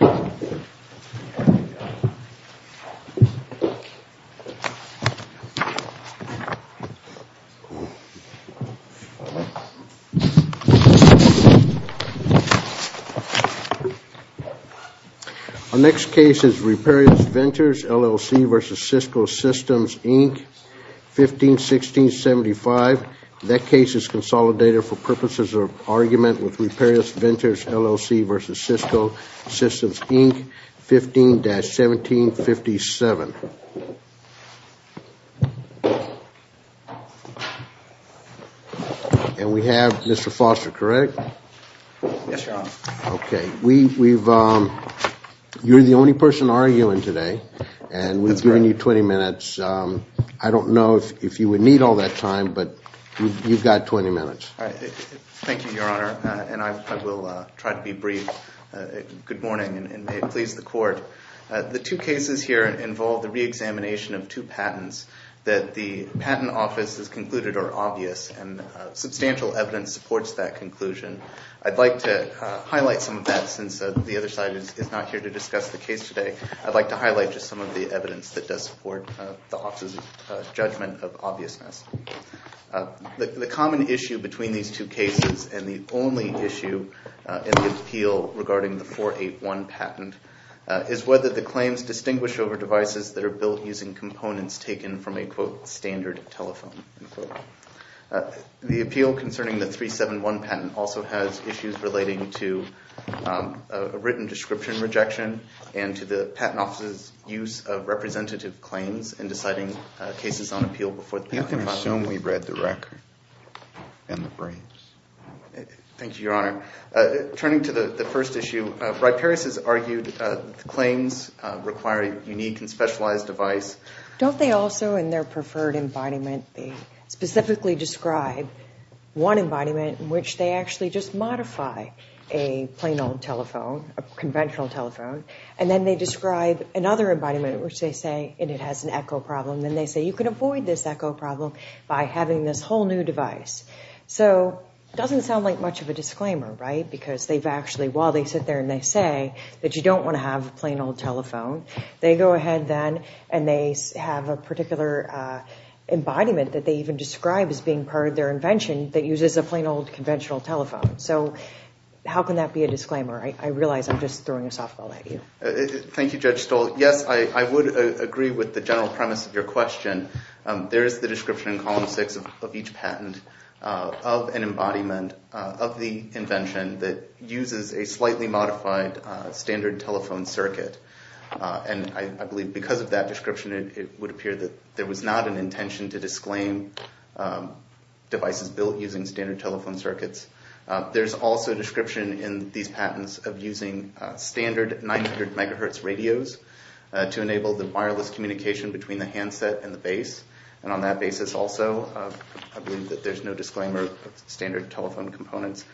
Our next case is Riparius Ventures LLC v. Cisco Systems, Inc., 15-16-75. That case is consolidated for purposes of argument with Riparius Ventures LLC v. Cisco Systems, Inc., 15-17-57. And we have Mr. Foster, correct? Yes, Your Honor. Okay, you're the only person arguing today, and we've given you 20 minutes. I don't know if you would need all that time, but you've got 20 minutes. Thank you, Your Honor, and I will try to be brief. Good morning, and may it please the Court. The two cases here involve the reexamination of two patents that the patent office has concluded are obvious, and substantial evidence supports that conclusion. I'd like to highlight some of that since the other side is not here to discuss the case today. I'd like to highlight just some of the evidence that does support the office's judgment of obviousness. The common issue between these two cases, and the only issue in the appeal regarding the 481 patent, is whether the claims distinguish over devices that are built using components taken from a, quote, standard telephone, unquote. The appeal concerning the 371 patent also has issues relating to a written description rejection, and to the patent office's use of representative claims in deciding cases on appeal before the patent office. You can assume we've read the record and the briefs. Thank you, Your Honor. Turning to the first issue, Wright-Parris has argued that the claims require a unique and specialized device. Don't they also, in their preferred embodiment, specifically describe one embodiment in which they actually just modify a plain old telephone, a conventional telephone, and then they describe another embodiment in which they say it has an echo problem, and then they say you can avoid this echo problem by having this whole new device. So, it doesn't sound like much of a disclaimer, right? Because they've actually, while they sit there and they say that you don't want to have a plain old telephone, they go ahead then and they have a particular embodiment that they even describe as being part of their invention that uses a plain old conventional telephone. So, how can that be a disclaimer? I realize I'm just throwing this off the wagon. Thank you, Judge Stoll. Yes, I would agree with the general premise of your question. There is the description in column six of each patent of an embodiment of the invention that uses a slightly modified standard telephone circuit, and I believe because of that description it would appear that there was not an intention to disclaim devices built using standard telephone circuits. There's also a description in these patents of using standard 900 megahertz radios to enable the wireless communication between the handset and the base, and on that basis also I believe that there's no disclaimer of standard telephone components.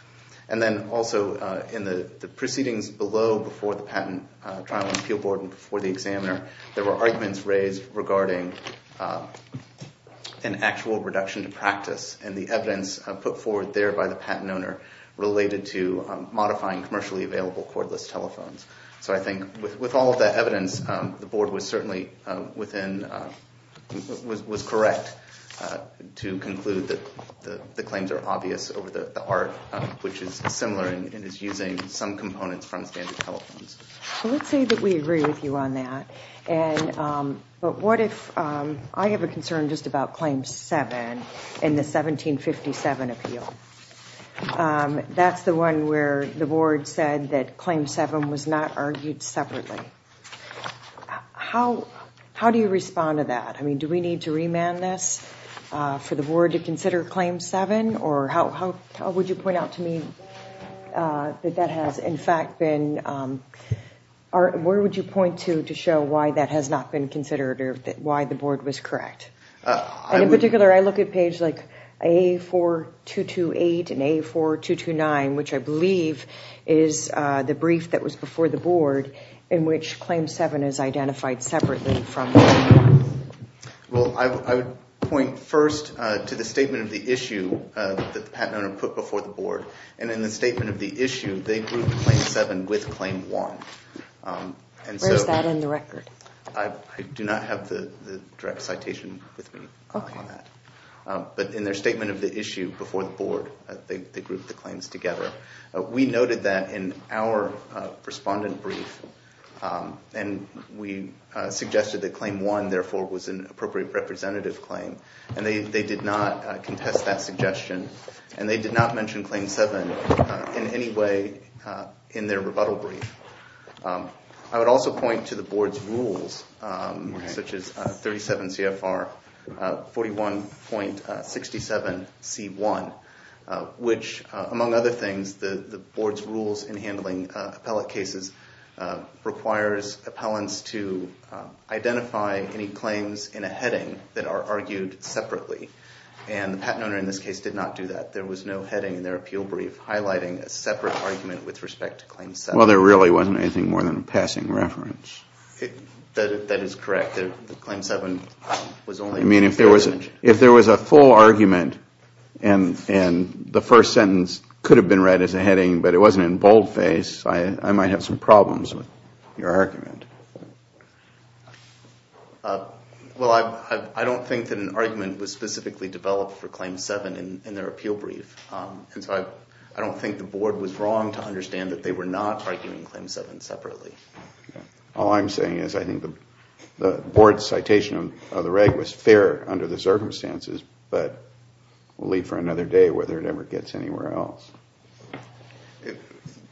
And then also in the proceedings below before the Patent Trial and Appeal Board and before the examiner, there were arguments raised regarding an actual reduction to practice and the evidence put forward there by the patent owner related to modifying commercially available cordless telephones. So I think with all of that evidence, the board was certainly within, was correct to conclude that the claims are obvious over the art, which is similar and is using some components from standard telephones. Well, let's say that we agree with you on that, but what if I have a concern just about Claim 7 in the 1757 appeal? That's the one where the board said that Claim 7 was not argued separately. How do you respond to that? I mean, do we need to remand this for the board to consider Claim 7, or how would you point out to me that that has in fact been, where would you point to to show why that has not been considered or why the board was correct? And in particular, I look at page like A4228 and A4229, which I believe is the brief that was before the board in which Claim 7 is identified separately from Claim 1. Well, I would point first to the statement of the issue that the patent owner put before the board. And in the statement of the issue, they grouped Claim 7 with Claim 1. Where is that in the record? I do not have the direct citation with me on that. But in their statement of the issue before the board, they grouped the claims together. We noted that in our respondent brief, and we suggested that Claim 1, therefore, was an appropriate representative claim. And they did not contest that suggestion, and they did not mention Claim 7 in any way in their rebuttal brief. I would also point to the board's rules, such as 37 CFR 41.67 C1, which among other things, the board's rules in handling appellate cases requires appellants to identify any claims in a heading that are argued separately. And the patent owner in this case did not do that. There was no heading in their appeal brief highlighting a separate argument with respect to Claim 7. Well, there really wasn't anything more than a passing reference. That is correct. Claim 7 was only considered. I mean, if there was a full argument, and the first sentence could have been read as a heading, but it wasn't in boldface, I might have some problems with your argument. Well, I don't think that an argument was specifically developed for Claim 7 in their appeal brief. And so I don't think the board was wrong to understand that they were not arguing Claim 7 separately. All I'm saying is I think the board's citation of the reg was fair under the circumstances, but we'll leave for another day whether it ever gets anywhere else.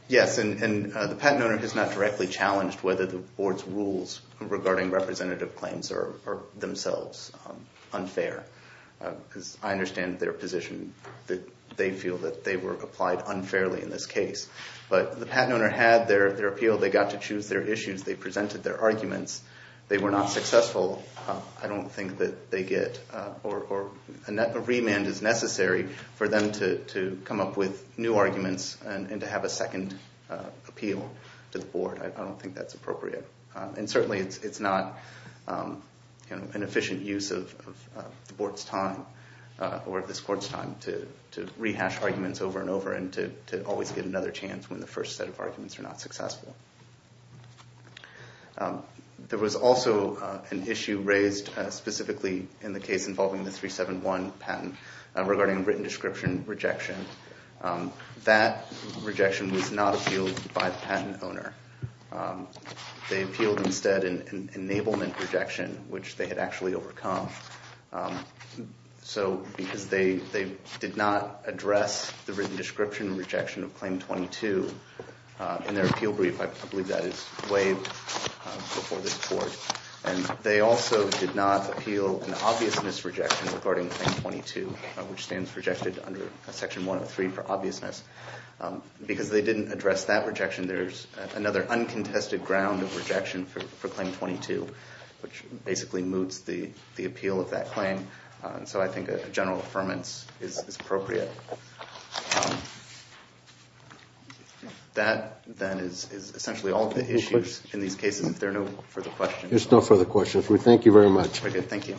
Yes, and the patent owner has not directly challenged whether the board's rules regarding representative claims are themselves unfair. I understand their position that they feel that they were applied unfairly in this case. But the patent owner had their appeal. They got to choose their issues. They presented their arguments. They were not successful. I don't think that they get or a remand is necessary for them to come up with new arguments and to have a second appeal to the board. I don't think that's appropriate. And certainly it's not an efficient use of the board's time or this court's time to rehash arguments over and over and to always get another chance when the first set of arguments are not successful. There was also an issue raised specifically in the case involving the 371 patent regarding written description rejection. That rejection was not appealed by the patent owner. They appealed instead an enablement rejection, which they had actually overcome. So because they did not address the written description rejection of Claim 22 in their appeal brief, I believe that is way before this court. And they also did not appeal an obvious misrejection regarding Claim 22, which stands for rejected under Section 103 for obviousness. Because they didn't address that rejection, there's another uncontested ground of rejection for Claim 22, which basically moots the appeal of that claim. So I think a general affirmance is appropriate. That, then, is essentially all of the issues in these cases. If there are no further questions. There's no further questions. We thank you very much. Thank you.